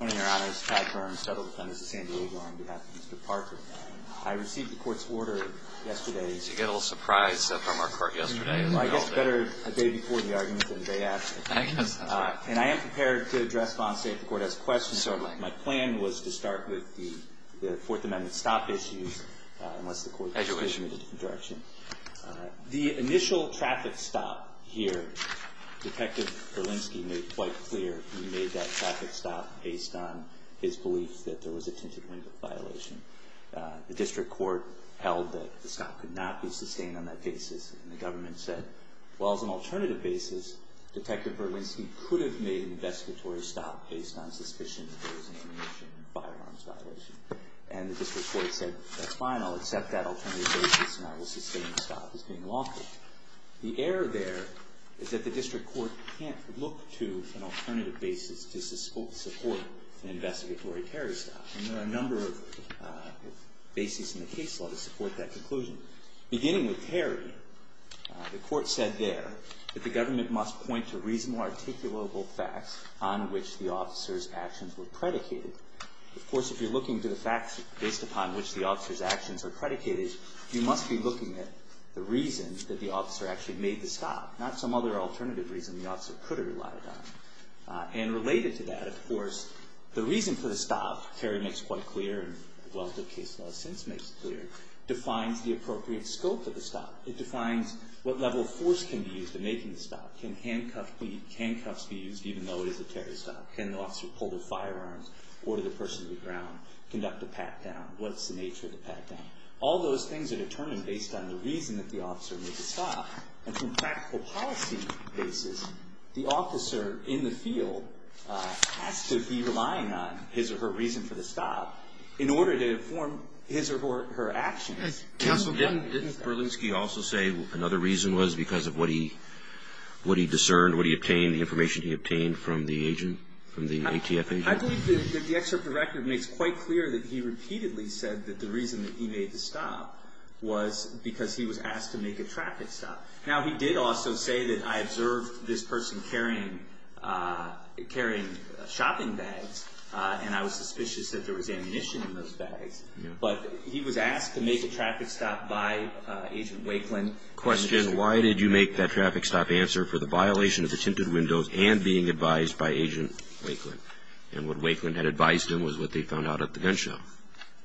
On behalf of Mr. Parker, I received the court's order yesterday to get a little surprise from our court yesterday. I guess it's better a day before the argument than a day after. I guess that's right. And I am prepared to address law and state if the court has questions. Certainly. My plan was to start with the Fourth Amendment stop issues, unless the court decided to move in a different direction. As you wish. The initial traffic stop here, Detective Berlinski made quite clear he made that traffic stop based on his belief that there was a tinted window violation. The district court held that the stop could not be sustained on that basis. And the government said, well, as an alternative basis, Detective Berlinski could have made an investigatory stop based on suspicion that there was an ammunition and firearms violation. And the district court said, that's fine, I'll accept that alternative basis and I will sustain the stop as being lawful. The error there is that the district court can't look to an alternative basis to support an investigatory Terry stop. And there are a number of bases in the case law to support that conclusion. Beginning with Terry, the court said there that the government must point to reasonable articulable facts on which the officer's actions were predicated. Of course, if you're looking to the facts based upon which the officer's actions are predicated, you must be looking at the reason that the officer actually made the stop. Not some other alternative reason the officer could have relied on. And related to that, of course, the reason for the stop, Terry makes quite clear, and the case law since makes it clear, defines the appropriate scope of the stop. It defines what level of force can be used in making the stop. Can handcuffs be used even though it is a Terry stop? Can the officer pull the firearms? Order the person to be ground? Conduct a pat down? What's the nature of the pat down? All those things are determined based on the reason that the officer made the stop. And from practical policy basis, the officer in the field has to be relying on his or her reason for the stop in order to inform his or her actions. Counsel, didn't Berlingski also say another reason was because of what he discerned, what he obtained, the information he obtained from the agent, from the ATF agent? I believe that the excerpt of the record makes quite clear that he repeatedly said that the reason that he made the stop was because he was asked to make a traffic stop. Now, he did also say that I observed this person carrying shopping bags, and I was suspicious that there was ammunition in those bags. But he was asked to make a traffic stop by Agent Wakeland. Question, why did you make that traffic stop answer for the violation of the tinted windows and being advised by Agent Wakeland? And what Wakeland had advised him was what they found out at the gun shop.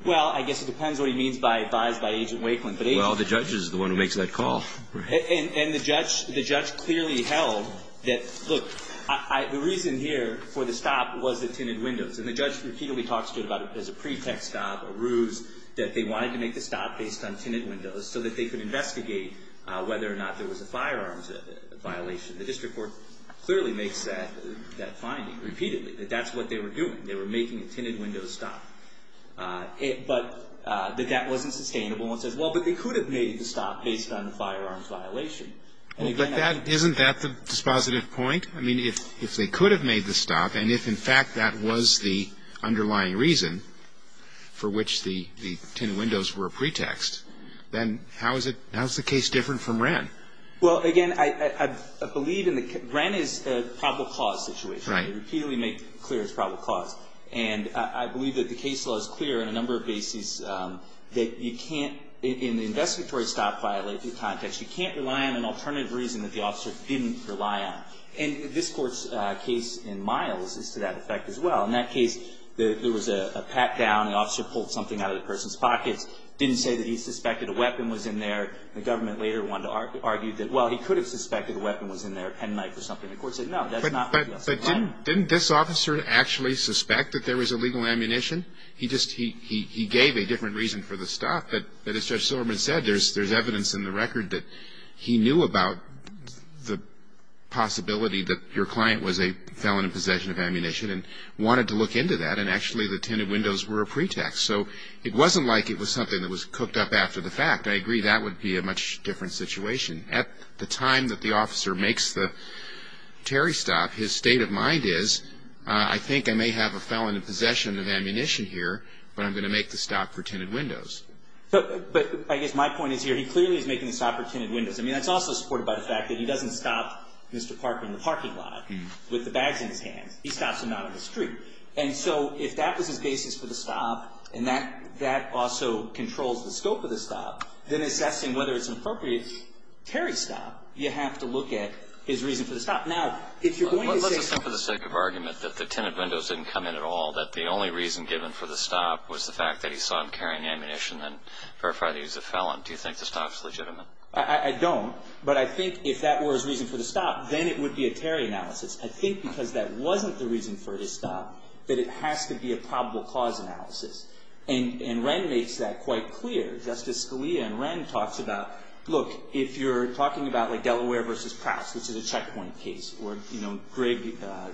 Well, I guess it depends what he means by advised by Agent Wakeland. Well, the judge is the one who makes that call. And the judge clearly held that, look, the reason here for the stop was the tinted windows. And the judge repeatedly talks to him about it as a pretext of a ruse, that they wanted to make the stop based on tinted windows so that they could investigate whether or not there was a firearms violation. The district court clearly makes that finding repeatedly, that that's what they were doing. They were making the tinted windows stop. But that that wasn't sustainable. And one says, well, but they could have made the stop based on the firearms violation. Isn't that the dispositive point? I mean, if they could have made the stop and if, in fact, that was the underlying reason for which the tinted windows were a pretext, then how is it, how is the case different from Wren? Well, again, I believe in the, Wren is a probable cause situation. Right. They repeatedly make it clear it's a probable cause. And I believe that the case law is clear on a number of bases that you can't, in the investigatory stop violation context, you can't rely on an alternative reason that the officer didn't rely on. And this Court's case in Miles is to that effect as well. In that case, there was a pat-down. The officer pulled something out of the person's pockets, didn't say that he suspected a weapon was in there. The government later wanted to argue that, well, he could have suspected a weapon was in there, a penknife or something. The Court said, no, that's not what the officer pulled. But didn't this officer actually suspect that there was illegal ammunition? He just, he gave a different reason for the stop. But as Judge Silverman said, there's evidence in the record that he knew about the possibility that your client was a felon in possession of ammunition and wanted to look into that. And actually, the tinted windows were a pretext. So it wasn't like it was something that was cooked up after the fact. I agree that would be a much different situation. At the time that the officer makes the Terry stop, his state of mind is, I think I may have a felon in possession of ammunition here, but I'm going to make the stop for tinted windows. But I guess my point is here, he clearly is making the stop for tinted windows. I mean, that's also supported by the fact that he doesn't stop Mr. Parker in the parking lot with the bags in his hands. He stops him out on the street. And so if that was his basis for the stop and that also controls the scope of the stop, then assessing whether it's an appropriate Terry stop, you have to look at his reason for the stop. Now, if you're going to say- Let's assume for the sake of argument that the tinted windows didn't come in at all, that the only reason given for the stop was the fact that he saw him carrying ammunition and verified that he was a felon. Do you think the stop's legitimate? I don't. But I think if that were his reason for the stop, then it would be a Terry analysis. I think because that wasn't the reason for the stop, that it has to be a probable cause analysis. And Wren makes that quite clear. Justice Scalia and Wren talks about, look, if you're talking about like Delaware versus Pratts, which is a checkpoint case, or, you know, Greg,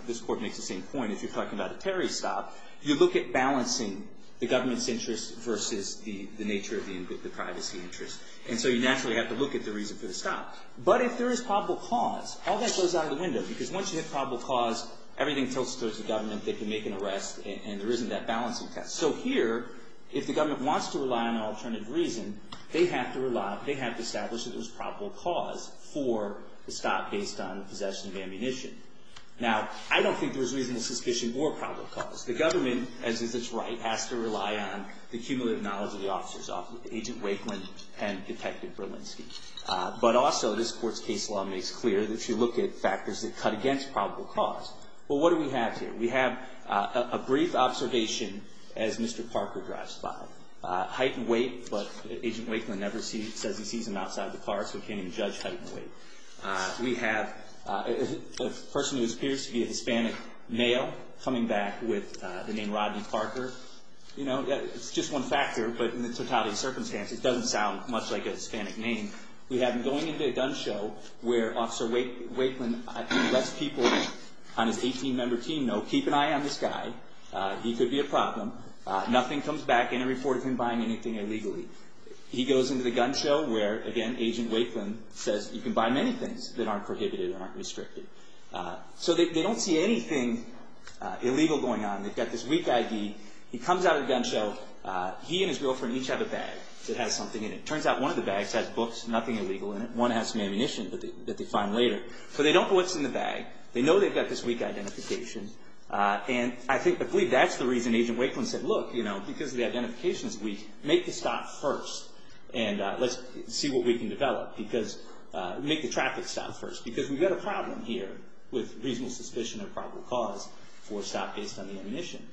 this court makes the same point. If you're talking about a Terry stop, you look at balancing the government's interest versus the nature of the privacy interest. And so you naturally have to look at the reason for the stop. But if there is probable cause, all that goes out of the window because once you hit probable cause, everything tilts towards the government. They can make an arrest, and there isn't that balancing test. So here, if the government wants to rely on an alternative reason, they have to establish that there's probable cause for the stop based on possession of ammunition. Now, I don't think there's reasonable suspicion or probable cause. The government, as is its right, has to rely on the cumulative knowledge of the officers, Agent Wakeland and Detective Berlinski. But also, this court's case law makes clear that if you look at factors that cut against probable cause. Well, what do we have here? We have a brief observation as Mr. Parker drives by. Height and weight, but Agent Wakeland never says he sees him outside the car, so he can't even judge height and weight. We have a person who appears to be a Hispanic male coming back with the name Rodney Parker. You know, it's just one factor, but in the totality of circumstances, it doesn't sound much like a Hispanic name. We have him going into a gun show where Officer Wakeland lets people on his 18-member team know, keep an eye on this guy. He could be a problem. Nothing comes back in a report of him buying anything illegally. He goes into the gun show where, again, Agent Wakeland says you can buy many things that aren't prohibited and aren't restricted. So they don't see anything illegal going on. They've got this weak ID. He comes out of the gun show. He and his girlfriend each have a bag that has something in it. It turns out one of the bags has books, nothing illegal in it. One has some ammunition that they find later. So they don't know what's in the bag. They know they've got this weak identification, and I believe that's the reason Agent Wakeland said, look, because the identification is weak, make the stop first, and let's see what we can develop. Make the traffic stop first, because we've got a problem here with reasonable suspicion of probable cause for a stop based on the ammunition.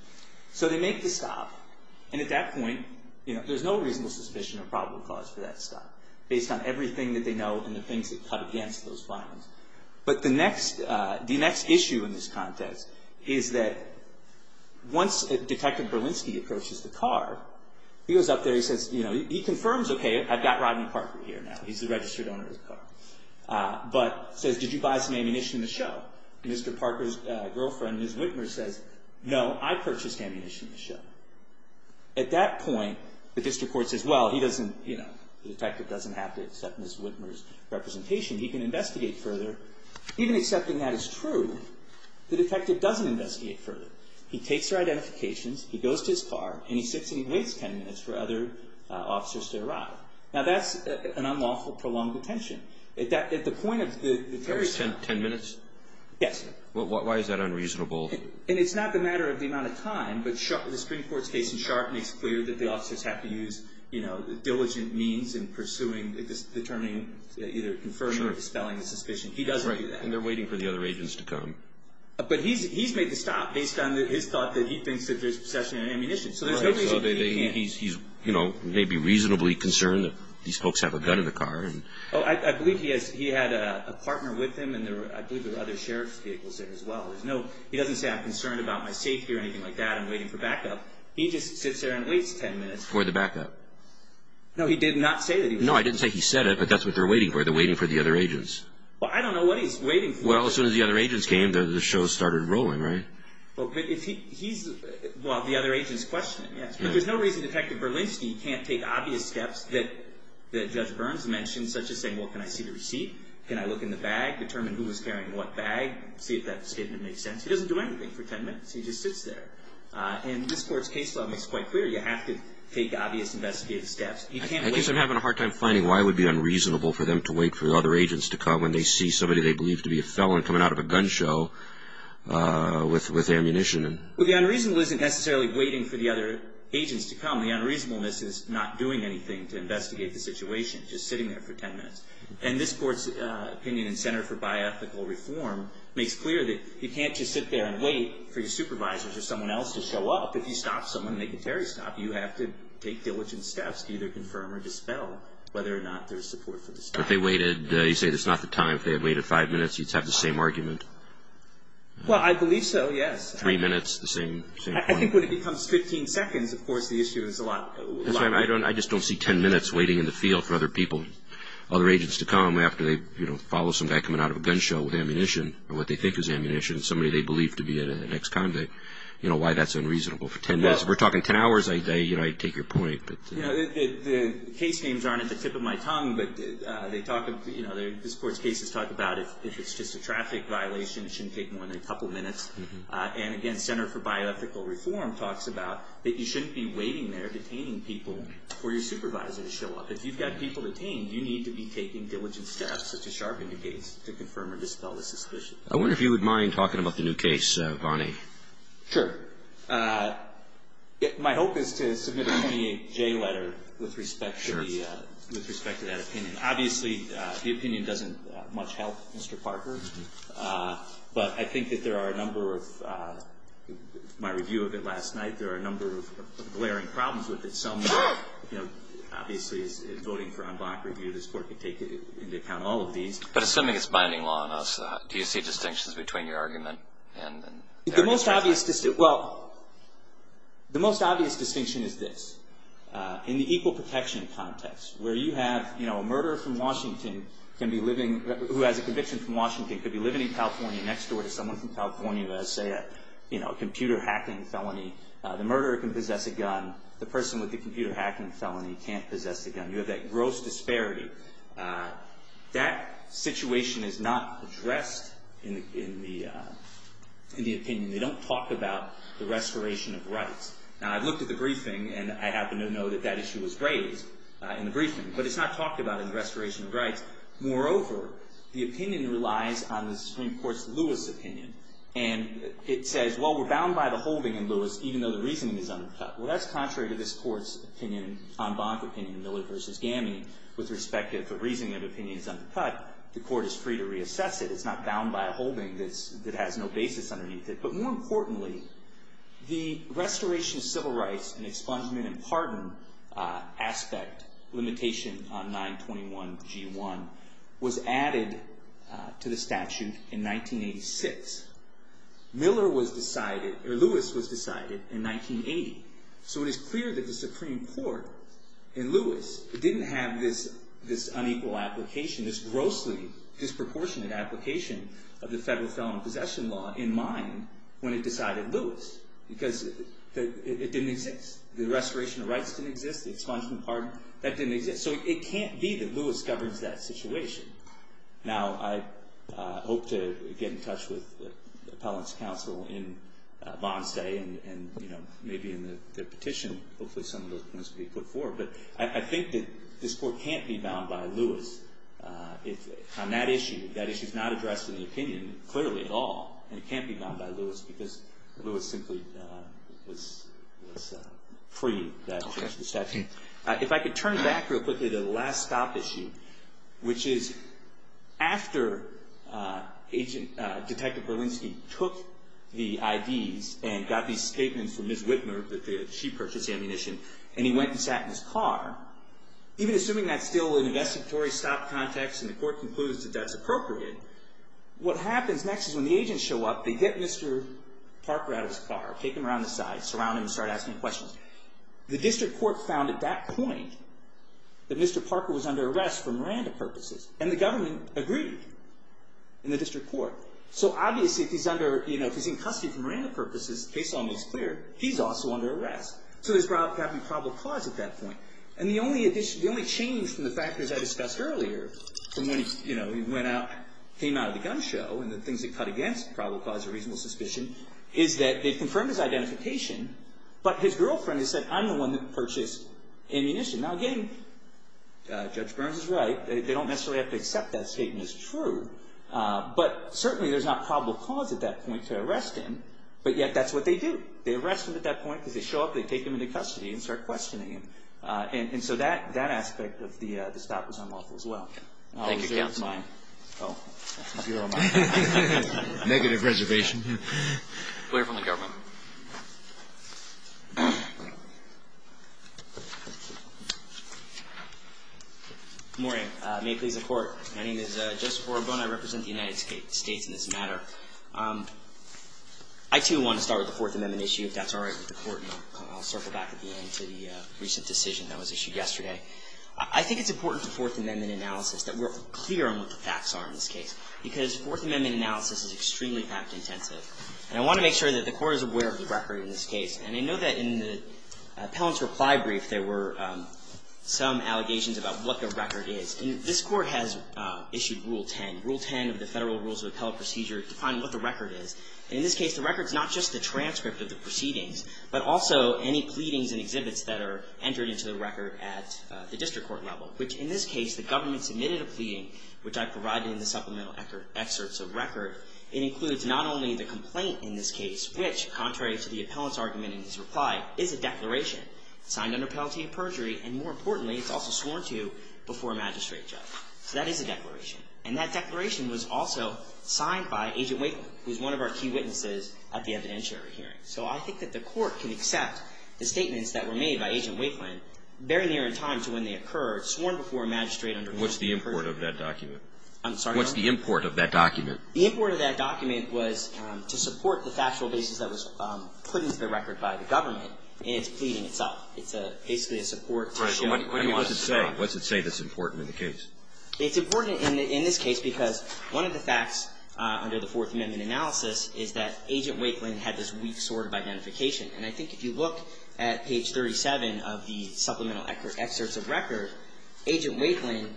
So they make the stop, and at that point, you know, there's no reasonable suspicion of probable cause for that stop based on everything that they know and the things they've cut against those violence. But the next issue in this context is that once Detective Berlinski approaches the car, he goes up there. He says, you know, he confirms, okay, I've got Rodney Parker here now. He's the registered owner of the car, but says, did you buy some ammunition in the show? Mr. Parker's girlfriend, Ms. Whitmer, says, no, I purchased ammunition in the show. At that point, the district court says, well, he doesn't, you know, the detective doesn't have to accept Ms. Whitmer's representation. He can investigate further. Even accepting that is true, the detective doesn't investigate further. He takes her identifications, he goes to his car, and he sits and he waits 10 minutes for other officers to arrive. Now, that's an unlawful prolonged detention. There's 10 minutes? Yes. Why is that unreasonable? And it's not the matter of the amount of time, but the Supreme Court's case in Sharp makes clear that the officers have to use, you know, diligent means in pursuing, determining, either confirming or dispelling the suspicion. He doesn't do that. And they're waiting for the other agents to come. But he's made the stop based on his thought that he thinks that there's possession of ammunition. So there's no reason he can't. He's, you know, maybe reasonably concerned that these folks have a gun in the car. Oh, I believe he had a partner with him, and I believe there were other sheriff's vehicles there as well. He doesn't say, I'm concerned about my safety or anything like that, I'm waiting for backup. He just sits there and waits 10 minutes. For the backup. No, he did not say that he was concerned. No, I didn't say he said it, but that's what they're waiting for. They're waiting for the other agents. Well, I don't know what he's waiting for. Well, as soon as the other agents came, the show started rolling, right? Well, but if he's, well, the other agent's questioning, yes. But there's no reason Detective Berlinski can't take obvious steps that Judge Burns mentioned, such as saying, well, can I see the receipt? Can I look in the bag, determine who was carrying what bag, see if that statement makes sense? He doesn't do anything for 10 minutes. He just sits there. And this Court's case law makes it quite clear. You have to take obvious investigative steps. I guess I'm having a hard time finding why it would be unreasonable for them to wait for the other agents to come when they see somebody they believe to be a felon coming out of a gun show with ammunition. Well, the unreasonable isn't necessarily waiting for the other agents to come. The unreasonableness is not doing anything to investigate the situation, just sitting there for 10 minutes. And this Court's opinion in Center for Biethical Reform makes clear that you can't just sit there and wait for your supervisor or someone else to show up. If you stop someone, they can terry stop you. You have to take diligent steps to either confirm or dispel whether or not there's support for the stop. But they waited, you say, that's not the time. If they had waited five minutes, you'd have the same argument. Well, I believe so, yes. Three minutes, the same point. I think when it becomes 15 seconds, of course, the issue is a lot longer. I just don't see 10 minutes waiting in the field for other people, other agents to come after they follow some guy coming out of a gun show with ammunition or what they think is ammunition, somebody they believe to be an ex-convict. You know why that's unreasonable for 10 minutes. If we're talking 10 hours, I'd take your point. The case names aren't at the tip of my tongue, but this Court's cases talk about if it's just a traffic violation, it shouldn't take more than a couple minutes. And, again, Center for Bioethical Reform talks about that you shouldn't be waiting there detaining people for your supervisor to show up. If you've got people detained, you need to be taking diligent steps, such as sharp indicates, to confirm or dispel the suspicion. I wonder if you would mind talking about the new case, Vonnie. Sure. My hope is to submit a 28J letter with respect to that opinion. Obviously, the opinion doesn't much help Mr. Parker. But I think that there are a number of, in my review of it last night, there are a number of glaring problems with it. Obviously, as voting for unblock review, this Court can take into account all of these. But assuming it's binding law, do you see distinctions between your argument? The most obvious distinction is this. In the equal protection context, where you have a murderer from Washington who has a conviction from Washington, could be living in California next door to someone from California who has, say, a computer hacking felony. The murderer can possess a gun. The person with the computer hacking felony can't possess a gun. You have that gross disparity. That situation is not addressed in the opinion. They don't talk about the restoration of rights. Now, I've looked at the briefing, and I happen to know that that issue was raised in the briefing. But it's not talked about in the restoration of rights. Moreover, the opinion relies on the Supreme Court's Lewis opinion. And it says, well, we're bound by the holding in Lewis, even though the reasoning is undercut. Well, that's contrary to this Court's opinion on Bonk opinion, Miller v. Gaminey, with respect to the reasoning of opinions undercut. The Court is free to reassess it. It's not bound by a holding that has no basis underneath it. But more importantly, the restoration of civil rights and expungement and pardon aspect, limitation on 921G1, was added to the statute in 1986. Miller was decided, or Lewis was decided, in 1980. So it is clear that the Supreme Court in Lewis didn't have this unequal application, this grossly disproportionate application of the Federal Felon Possession Law in mind when it decided Lewis. Because it didn't exist. The restoration of rights didn't exist. The expungement and pardon, that didn't exist. So it can't be that Lewis governs that situation. Now, I hope to get in touch with the Appellant's Counsel in Monday and maybe in the petition. Hopefully some of those things will be put forward. But I think that this Court can't be bound by Lewis on that issue. That issue is not addressed in the opinion, clearly, at all. And it can't be bound by Lewis because Lewis simply was free. If I could turn back real quickly to the last stop issue, which is after Detective Berlinski took the IDs and got these statements from Ms. Whitmer that she purchased the ammunition and he went and sat in his car, even assuming that's still an investigatory stop context and the Court concludes that that's appropriate, what happens next is when the agents show up, they get Mr. Parker out of his car, take him around the side, surround him and start asking questions. The District Court found at that point that Mr. Parker was under arrest for Miranda purposes. And the government agreed in the District Court. So obviously if he's in custody for Miranda purposes, the case is almost clear, he's also under arrest. So there's probably probable cause at that point. And the only change from the factors I discussed earlier, from when he came out of the gun show and the things that cut against probable cause or reasonable suspicion, is that they've confirmed his identification, but his girlfriend has said, I'm the one that purchased ammunition. Now again, Judge Burns is right. They don't necessarily have to accept that statement as true. But certainly there's not probable cause at that point to arrest him, but yet that's what they do. They arrest him at that point because they show up, they take him into custody and start questioning him. And so that aspect of the stop was unlawful as well. Thank you, Counsel. Oh, that's zero on my end. Negative reservation. Good morning. May it please the Court. My name is Joseph Orobon. I represent the United States in this matter. I, too, want to start with the Fourth Amendment issue, if that's all right with the Court. And I'll circle back at the end to the recent decision that was issued yesterday. I think it's important to Fourth Amendment analysis that we're clear on what the facts are in this case, because Fourth Amendment analysis is extremely fact-intensive. And I want to make sure that the Court is aware of the record in this case. And I know that in the appellant's reply brief there were some allegations about what the record is. This Court has issued Rule 10, Rule 10 of the Federal Rules of Appellate Procedure, to find what the record is. And in this case, the record is not just the transcript of the proceedings, but also any pleadings and exhibits that are entered into the record at the district court level, which in this case, the government submitted a pleading, which I provided in the supplemental excerpts of record. It includes not only the complaint in this case, which, contrary to the appellant's argument in his reply, is a declaration, signed under penalty of perjury, and more importantly, it's also sworn to before a magistrate judge. So that is a declaration. And that declaration was also signed by Agent Waveland, who is one of our key witnesses at the evidentiary hearing. So I think that the Court can accept the statements that were made by Agent Waveland very near in time to when they occurred, sworn before a magistrate under penalty of perjury. What's the import of that document? I'm sorry? What's the import of that document? The import of that document was to support the factual basis that was put into the record by the government in its pleading itself. It's basically a support to show what he wants to say. So what does it say? What does it say that's important in the case? It's important in this case because one of the facts under the Fourth Amendment analysis is that Agent Waveland had this weak sort of identification. And I think if you look at page 37 of the supplemental excerpts of record, Agent Waveland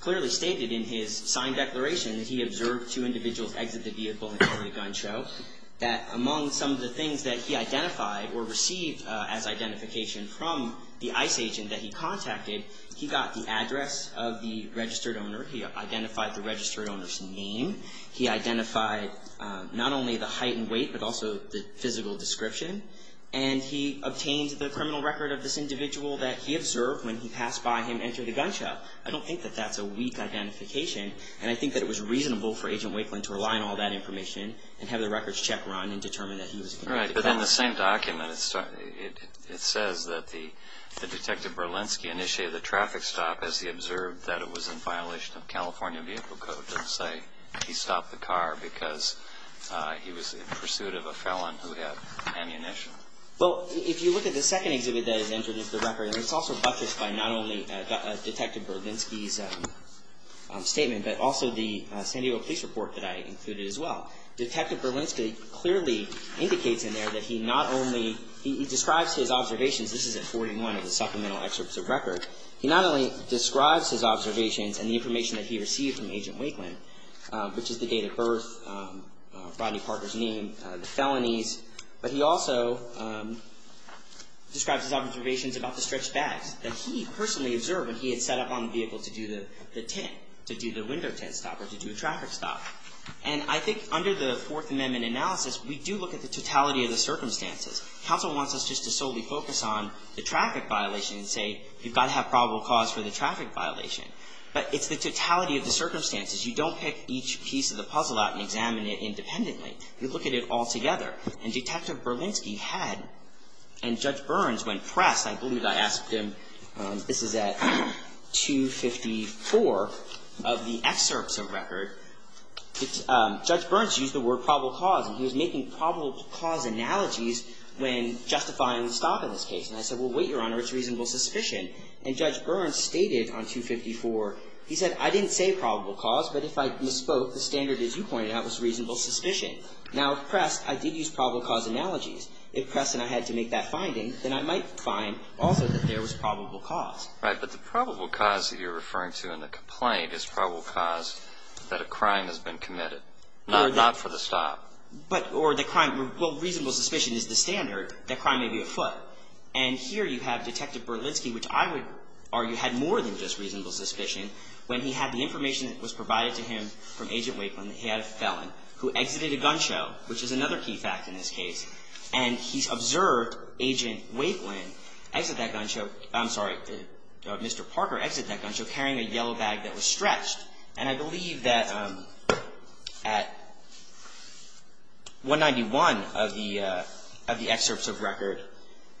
clearly stated in his signed declaration that he observed two individuals exit the vehicle and carry a gun show, that among some of the things that he identified or received as identification from the ICE agent that he contacted, he got the address of the registered owner. He identified the registered owner's name. He identified not only the height and weight but also the physical description. And he obtained the criminal record of this individual that he observed when he passed by him enter the gun show. I don't think that that's a weak identification. And I think that it was reasonable for Agent Waveland to rely on all that information and have the records check run and determine that he was a convicted felon. Right, but in the same document it says that the Detective Berlinski initiated the traffic stop as he observed that it was in violation of California vehicle code to say he stopped the car because he was in pursuit of a felon who had ammunition. Well, if you look at the second exhibit that is entered into the record, it's also buttressed by not only Detective Berlinski's statement but also the San Diego police report that I included as well. Detective Berlinski clearly indicates in there that he not only, he describes his observations. This is at 41 of the supplemental excerpts of record. He not only describes his observations and the information that he received from Agent Waveland, which is the date of birth, Rodney Parker's name, the felonies, but he also describes his observations about the stretched bags that he personally observed when he had set up on the vehicle to do the tint, to do the window tint stop or to do a traffic stop. And I think under the Fourth Amendment analysis, we do look at the totality of the circumstances. Counsel wants us just to solely focus on the traffic violation and say you've got to have probable cause for the traffic violation. But it's the totality of the circumstances. You don't pick each piece of the puzzle out and examine it independently. You look at it all together. And Detective Berlinski had, and Judge Burns, when pressed, I believe I asked him, this is at 254 of the excerpts of record, Judge Burns used the word probable cause and he was making probable cause analogies when justifying the stop in this case. And I said, well, wait, Your Honor, it's reasonable suspicion. And Judge Burns stated on 254, he said, I didn't say probable cause, but if I misspoke, the standard, as you pointed out, was reasonable suspicion. Now, if pressed, I did use probable cause analogies. If pressed and I had to make that finding, then I might find also that there was probable cause. Right, but the probable cause that you're referring to in the complaint is probable cause that a crime has been committed, not for the stop. But, or the crime, well, reasonable suspicion is the standard that crime may be afoot. And here you have Detective Berlinski, which I would argue had more than just reasonable suspicion when he had the information that was provided to him from Agent Wakelin, that he had a felon who exited a gun show, which is another key fact in this case. And he observed Agent Wakelin exit that gun show, I'm sorry, Mr. Parker exit that gun show carrying a yellow bag that was stretched. And I believe that at 191 of the excerpts of record,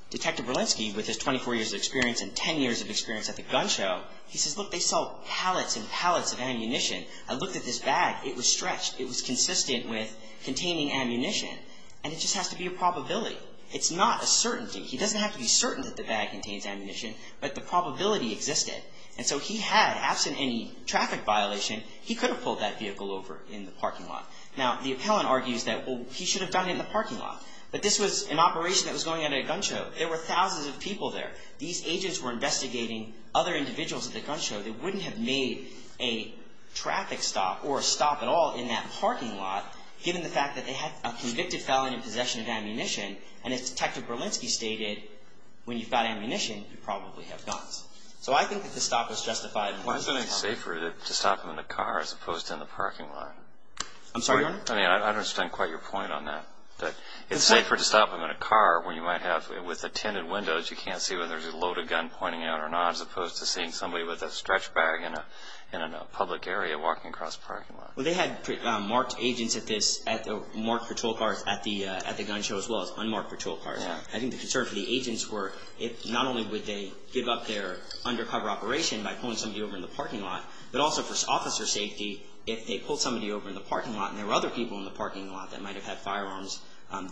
Detective Berlinski, with his 24 years of experience and 10 years of experience at the gun show, he says, look, they saw pallets and pallets of ammunition. I looked at this bag, it was stretched. It was consistent with containing ammunition. And it just has to be a probability. It's not a certainty. He doesn't have to be certain that the bag contains ammunition, but the probability existed. And so he had, absent any traffic violation, he could have pulled that vehicle over in the parking lot. Now, the appellant argues that, well, he should have done it in the parking lot. But this was an operation that was going on at a gun show. There were thousands of people there. These agents were investigating other individuals at the gun show. They wouldn't have made a traffic stop or a stop at all in that parking lot, given the fact that they had a convicted felon in possession of ammunition. And as Detective Berlinski stated, when you've got ammunition, you probably have guns. So I think that the stop was justified. Why isn't it safer to stop him in the car as opposed to in the parking lot? I'm sorry, Your Honor? I mean, I don't understand quite your point on that. It's safer to stop him in a car when you might have, with the tinted windows, you can't see whether there's a loaded gun pointing out or not, as opposed to seeing somebody with a stretch bag in a public area walking across the parking lot. Well, they had marked agents at this, marked patrol cars at the gun show as well as unmarked patrol cars. I think the concern for the agents were, not only would they give up their undercover operation by pulling somebody over in the parking lot, but also for officer safety, if they pulled somebody over in the parking lot and there were other people in the parking lot that might have had firearms,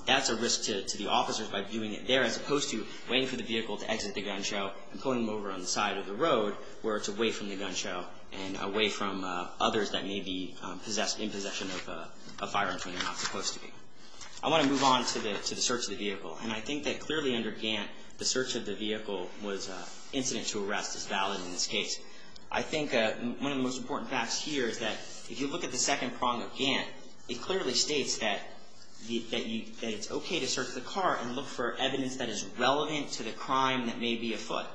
that's a risk to the officers by doing it there, as opposed to waiting for the vehicle to exit the gun show and pulling them over on the side of the road where it's away from the gun show and away from others that may be in possession of firearms when they're not supposed to be. I want to move on to the search of the vehicle. And I think that clearly under Gantt, the search of the vehicle was incident to arrest as valid in this case. I think one of the most important facts here is that if you look at the second prong of Gantt, it clearly states that it's okay to search the car and look for evidence that is relevant to the crime that may be afoot,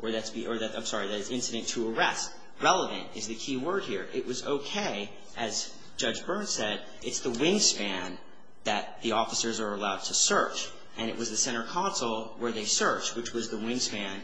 or that's incident to arrest. Relevant is the key word here. It was okay, as Judge Byrne said, it's the wingspan that the officers are allowed to search. And it was the center console where they searched, which was the wingspan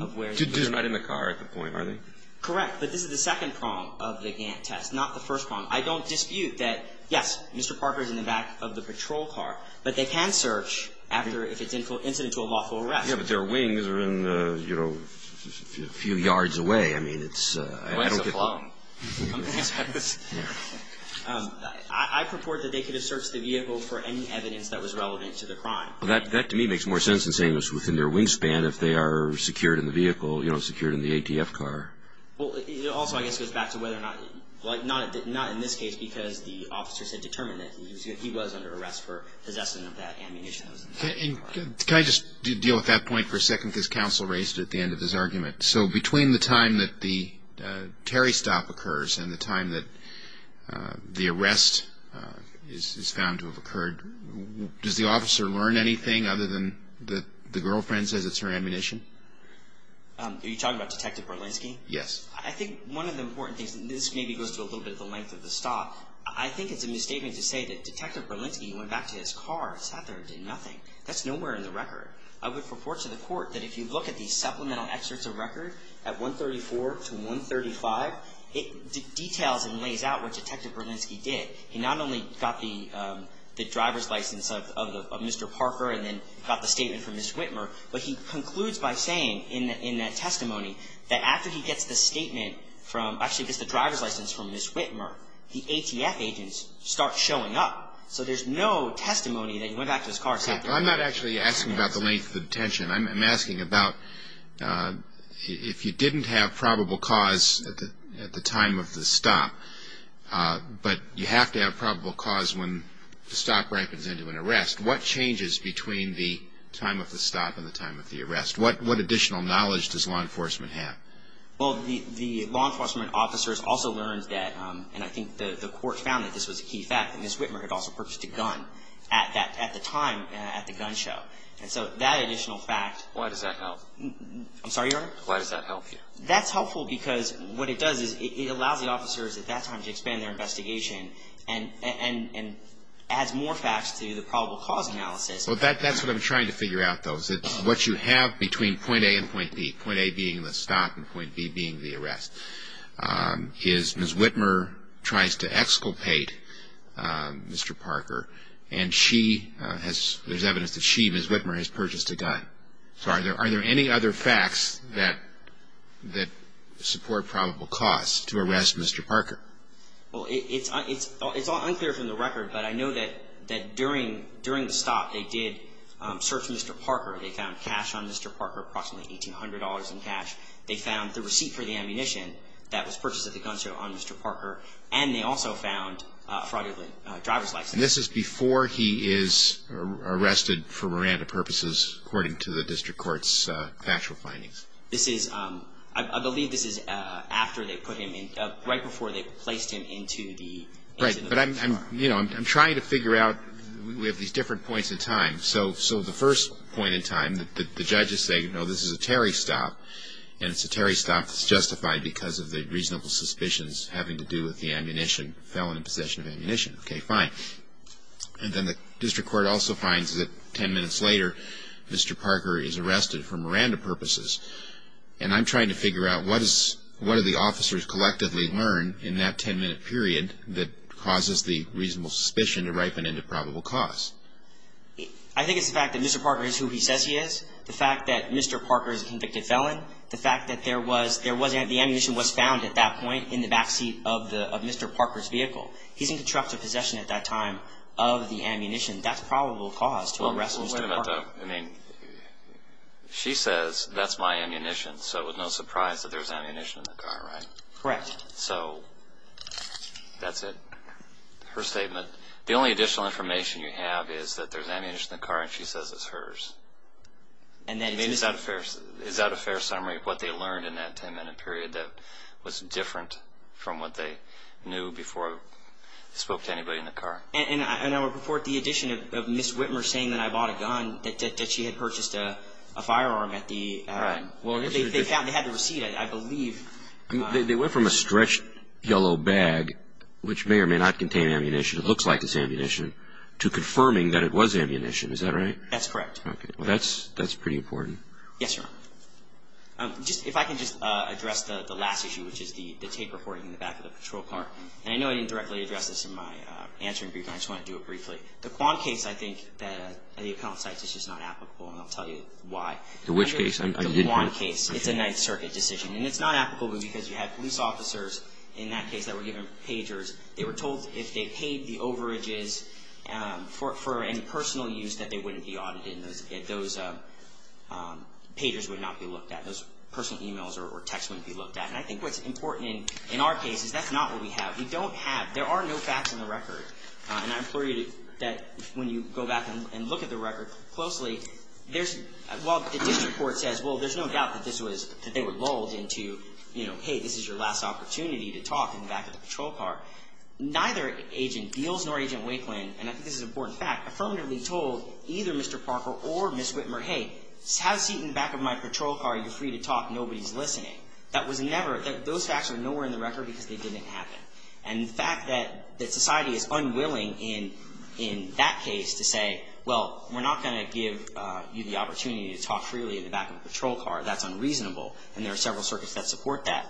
of where they searched. They're not in the car at the point, are they? Correct. But this is the second prong of the Gantt test, not the first prong. I don't dispute that, yes, Mr. Parker is in the back of the patrol car, but they can search after if it's incident to a lawful arrest. Yeah, but their wings are in, you know, a few yards away. I mean, it's – Wings afloat. I purport that they could have searched the vehicle for any evidence that was relevant to the crime. Well, that to me makes more sense than saying it was within their wingspan if they are secured in the vehicle, you know, secured in the ATF car. Well, it also, I guess, goes back to whether or not – like not in this case because the officers had determined that he was under arrest for possessing of that ammunition. Can I just deal with that point for a second because counsel raised it at the end of his argument? So between the time that the Terry stop occurs and the time that the arrest is found to have occurred, does the officer learn anything other than that the girlfriend says it's her ammunition? Are you talking about Detective Berlinski? Yes. I think one of the important things, and this maybe goes to a little bit of the length of the stop, I think it's a misstatement to say that Detective Berlinski went back to his car and sat there and did nothing. That's nowhere in the record. I would purport to the court that if you look at these supplemental excerpts of record at 134 to 135, it details and lays out what Detective Berlinski did. He not only got the driver's license of Mr. Parker and then got the statement from Ms. Whitmer, but he concludes by saying in that testimony that after he gets the statement from, actually gets the driver's license from Ms. Whitmer, the ATF agents start showing up. So there's no testimony that he went back to his car and sat there. I'm not actually asking about the length of detention. I'm asking about if you didn't have probable cause at the time of the stop, but you have to have probable cause when the stop ripens into an arrest, what changes between the time of the stop and the time of the arrest? What additional knowledge does law enforcement have? Well, the law enforcement officers also learned that, and I think the court found that this was a key fact, that Ms. Whitmer had also purchased a gun at the time at the gun show. And so that additional fact. Why does that help? I'm sorry, Your Honor? Why does that help you? That's helpful because what it does is it allows the officers at that time to expand their investigation and adds more facts to the probable cause analysis. Well, that's what I'm trying to figure out, though, is what you have between point A and point B, point A being the stop and point B being the arrest. Ms. Whitmer tries to exculpate Mr. Parker, and she has, there's evidence that she, Ms. Whitmer, has purchased a gun. So are there any other facts that support probable cause to arrest Mr. Parker? Well, it's unclear from the record, but I know that during the stop they did search Mr. Parker. They found cash on Mr. Parker, approximately $1,800 in cash. They found the receipt for the ammunition that was purchased at the gun show on Mr. Parker, and they also found a fraudulent driver's license. And this is before he is arrested for Miranda purposes, according to the district court's factual findings? This is, I believe this is after they put him in, right before they placed him into the car. Right, but I'm trying to figure out, we have these different points in time. So the first point in time, the judges say, you know, this is a Terry stop, and it's a Terry stop that's justified because of the reasonable suspicions having to do with the ammunition, the felon in possession of ammunition. Okay, fine. And then the district court also finds that 10 minutes later, Mr. Parker is arrested for Miranda purposes. And I'm trying to figure out, what do the officers collectively learn in that 10-minute period that causes the reasonable suspicion to ripen into probable cause? I think it's the fact that Mr. Parker is who he says he is, the fact that Mr. Parker is a convicted felon, the fact that the ammunition was found at that point in the backseat of Mr. Parker's vehicle. He's in constructive possession at that time of the ammunition. That's probable cause to arrest Mr. Parker. Well, wait a minute, though. I mean, she says, that's my ammunition, so it's no surprise that there's ammunition in the car, right? Correct. So that's it, her statement. The only additional information you have is that there's ammunition in the car, and she says it's hers. I mean, is that a fair summary of what they learned in that 10-minute period that was different from what they knew before they spoke to anybody in the car? And I would report the addition of Ms. Whitmer saying that I bought a gun, that she had purchased a firearm at the, well, they had the receipt, I believe. They went from a stretched yellow bag, which may or may not contain ammunition, it looks like it's ammunition, to confirming that it was ammunition. Is that right? That's correct. Okay. Well, that's pretty important. Yes, Your Honor. If I can just address the last issue, which is the tape recording in the back of the patrol car. And I know I didn't directly address this in my answering brief, and I just want to do it briefly. The Kwan case, I think, that the appellant cites is just not applicable, and I'll tell you why. The which case? The Kwan case. It's a Ninth Circuit decision. And it's not applicable because you had police officers in that case that were given pagers. They were told if they paid the overages for any personal use, that they wouldn't be audited. Those pagers would not be looked at. Those personal e-mails or texts wouldn't be looked at. And I think what's important in our case is that's not what we have. We don't have, there are no facts in the record. And I implore you that when you go back and look at the record closely, there's, well, the district court says, well, there's no doubt that this was, that they were lulled into, you know, hey, this is your last opportunity to talk in the back of the patrol car. Neither Agent Beals nor Agent Wakelin, and I think this is an important fact, affirmatively told either Mr. Parker or Ms. Whitmer, hey, have a seat in the back of my patrol car. You're free to talk. Nobody's listening. That was never, those facts are nowhere in the record because they didn't happen. And the fact that society is unwilling in that case to say, well, we're not going to give you the opportunity to talk freely in the back of a patrol car, that's unreasonable. And there are several circuits that support that.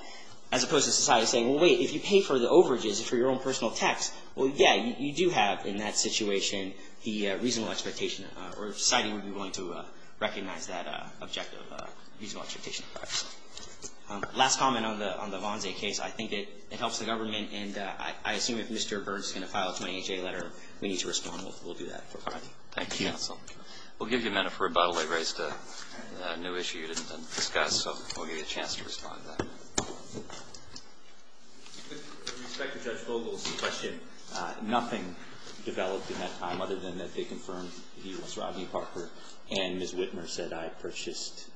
As opposed to society saying, well, wait, if you pay for the overages for your own personal tax, well, yeah, you do have in that situation the reasonable expectation or society would be willing to recognize that objective reasonable expectation. Last comment on the Vonze case. I think it helps the government, and I assume if Mr. Burns is going to file a 28-J letter, we need to respond. We'll do that. Thank you, counsel. We'll give you a minute for rebuttal. I raised a new issue you didn't discuss, so we'll give you a chance to respond to that. With respect to Judge Vogel's question, nothing developed in that time other than that they confirmed he was Rodney Parker and Ms. Whitmer said, I purchased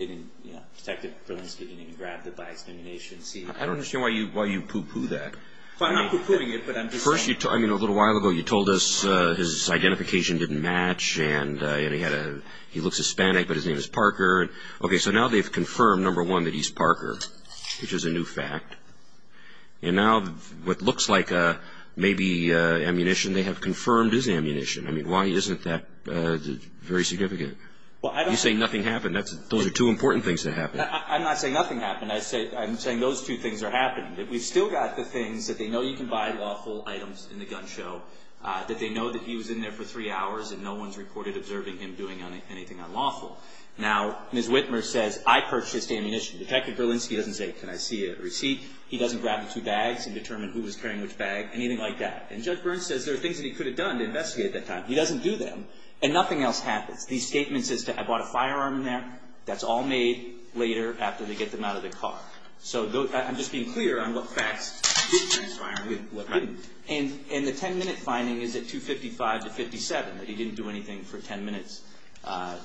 ammunition. Detective Berlinski didn't even grab the biased ammunition. I don't understand why you poo-poo that. A little while ago you told us his identification didn't match and he looks Hispanic, but his name is Parker. Okay, so now they've confirmed, number one, that he's Parker, which is a new fact. And now what looks like maybe ammunition they have confirmed is ammunition. I mean, why isn't that very significant? You say nothing happened. Those are two important things that happened. I'm not saying nothing happened. I'm saying those two things are happening. We've still got the things that they know you can buy lawful items in the gun show, that they know that he was in there for three hours and no one's reported observing him doing anything unlawful. Now, Ms. Whitmer says, I purchased ammunition. Detective Berlinski doesn't say, can I see a receipt? He doesn't grab the two bags and determine who was carrying which bag, anything like that. And Judge Burns says there are things that he could have done to investigate at that time. He doesn't do them, and nothing else happens. The statement says, I bought a firearm in there. That's all made later after they get them out of the car. So I'm just being clear on what facts. And the 10-minute finding is at 255 to 57, that he didn't do anything for the 10 minutes that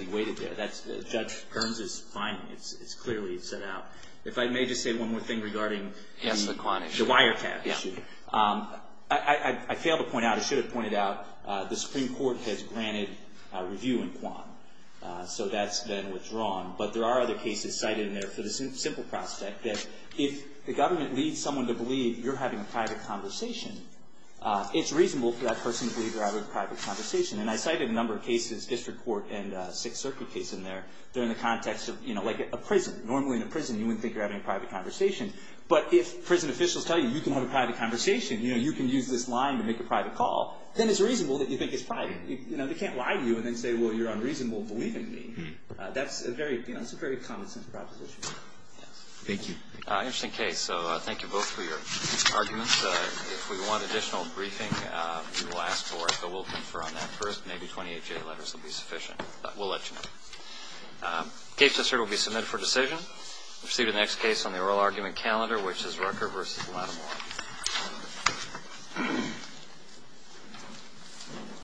he waited there. That's Judge Burns' finding. It's clearly set out. If I may just say one more thing regarding the wiretap issue. I failed to point out, I should have pointed out, the Supreme Court has granted a review in Quan. So that's then what's wrong. But there are other cases cited in there for the simple prospect that if the government leads someone to believe you're having a private conversation, it's reasonable for that person to believe you're having a private conversation. And I cited a number of cases, district court and Sixth Circuit case in there. They're in the context of, you know, like a prison. Normally in a prison, you wouldn't think you're having a private conversation. But if prison officials tell you you can have a private conversation, you know, you can use this line to make a private call, then it's reasonable that you think it's private. You know, they can't lie to you and then say, well, you're unreasonable in believing me. That's a very common-sense proposition. Thank you. Interesting case. So thank you both for your arguments. If we want additional briefing, we will ask for it, but we'll confer on that first. Maybe 28-J letters will be sufficient. We'll let you know. The case that's heard will be submitted for decision. We'll proceed to the next case on the oral argument calendar, which is Rucker v. Lattimore.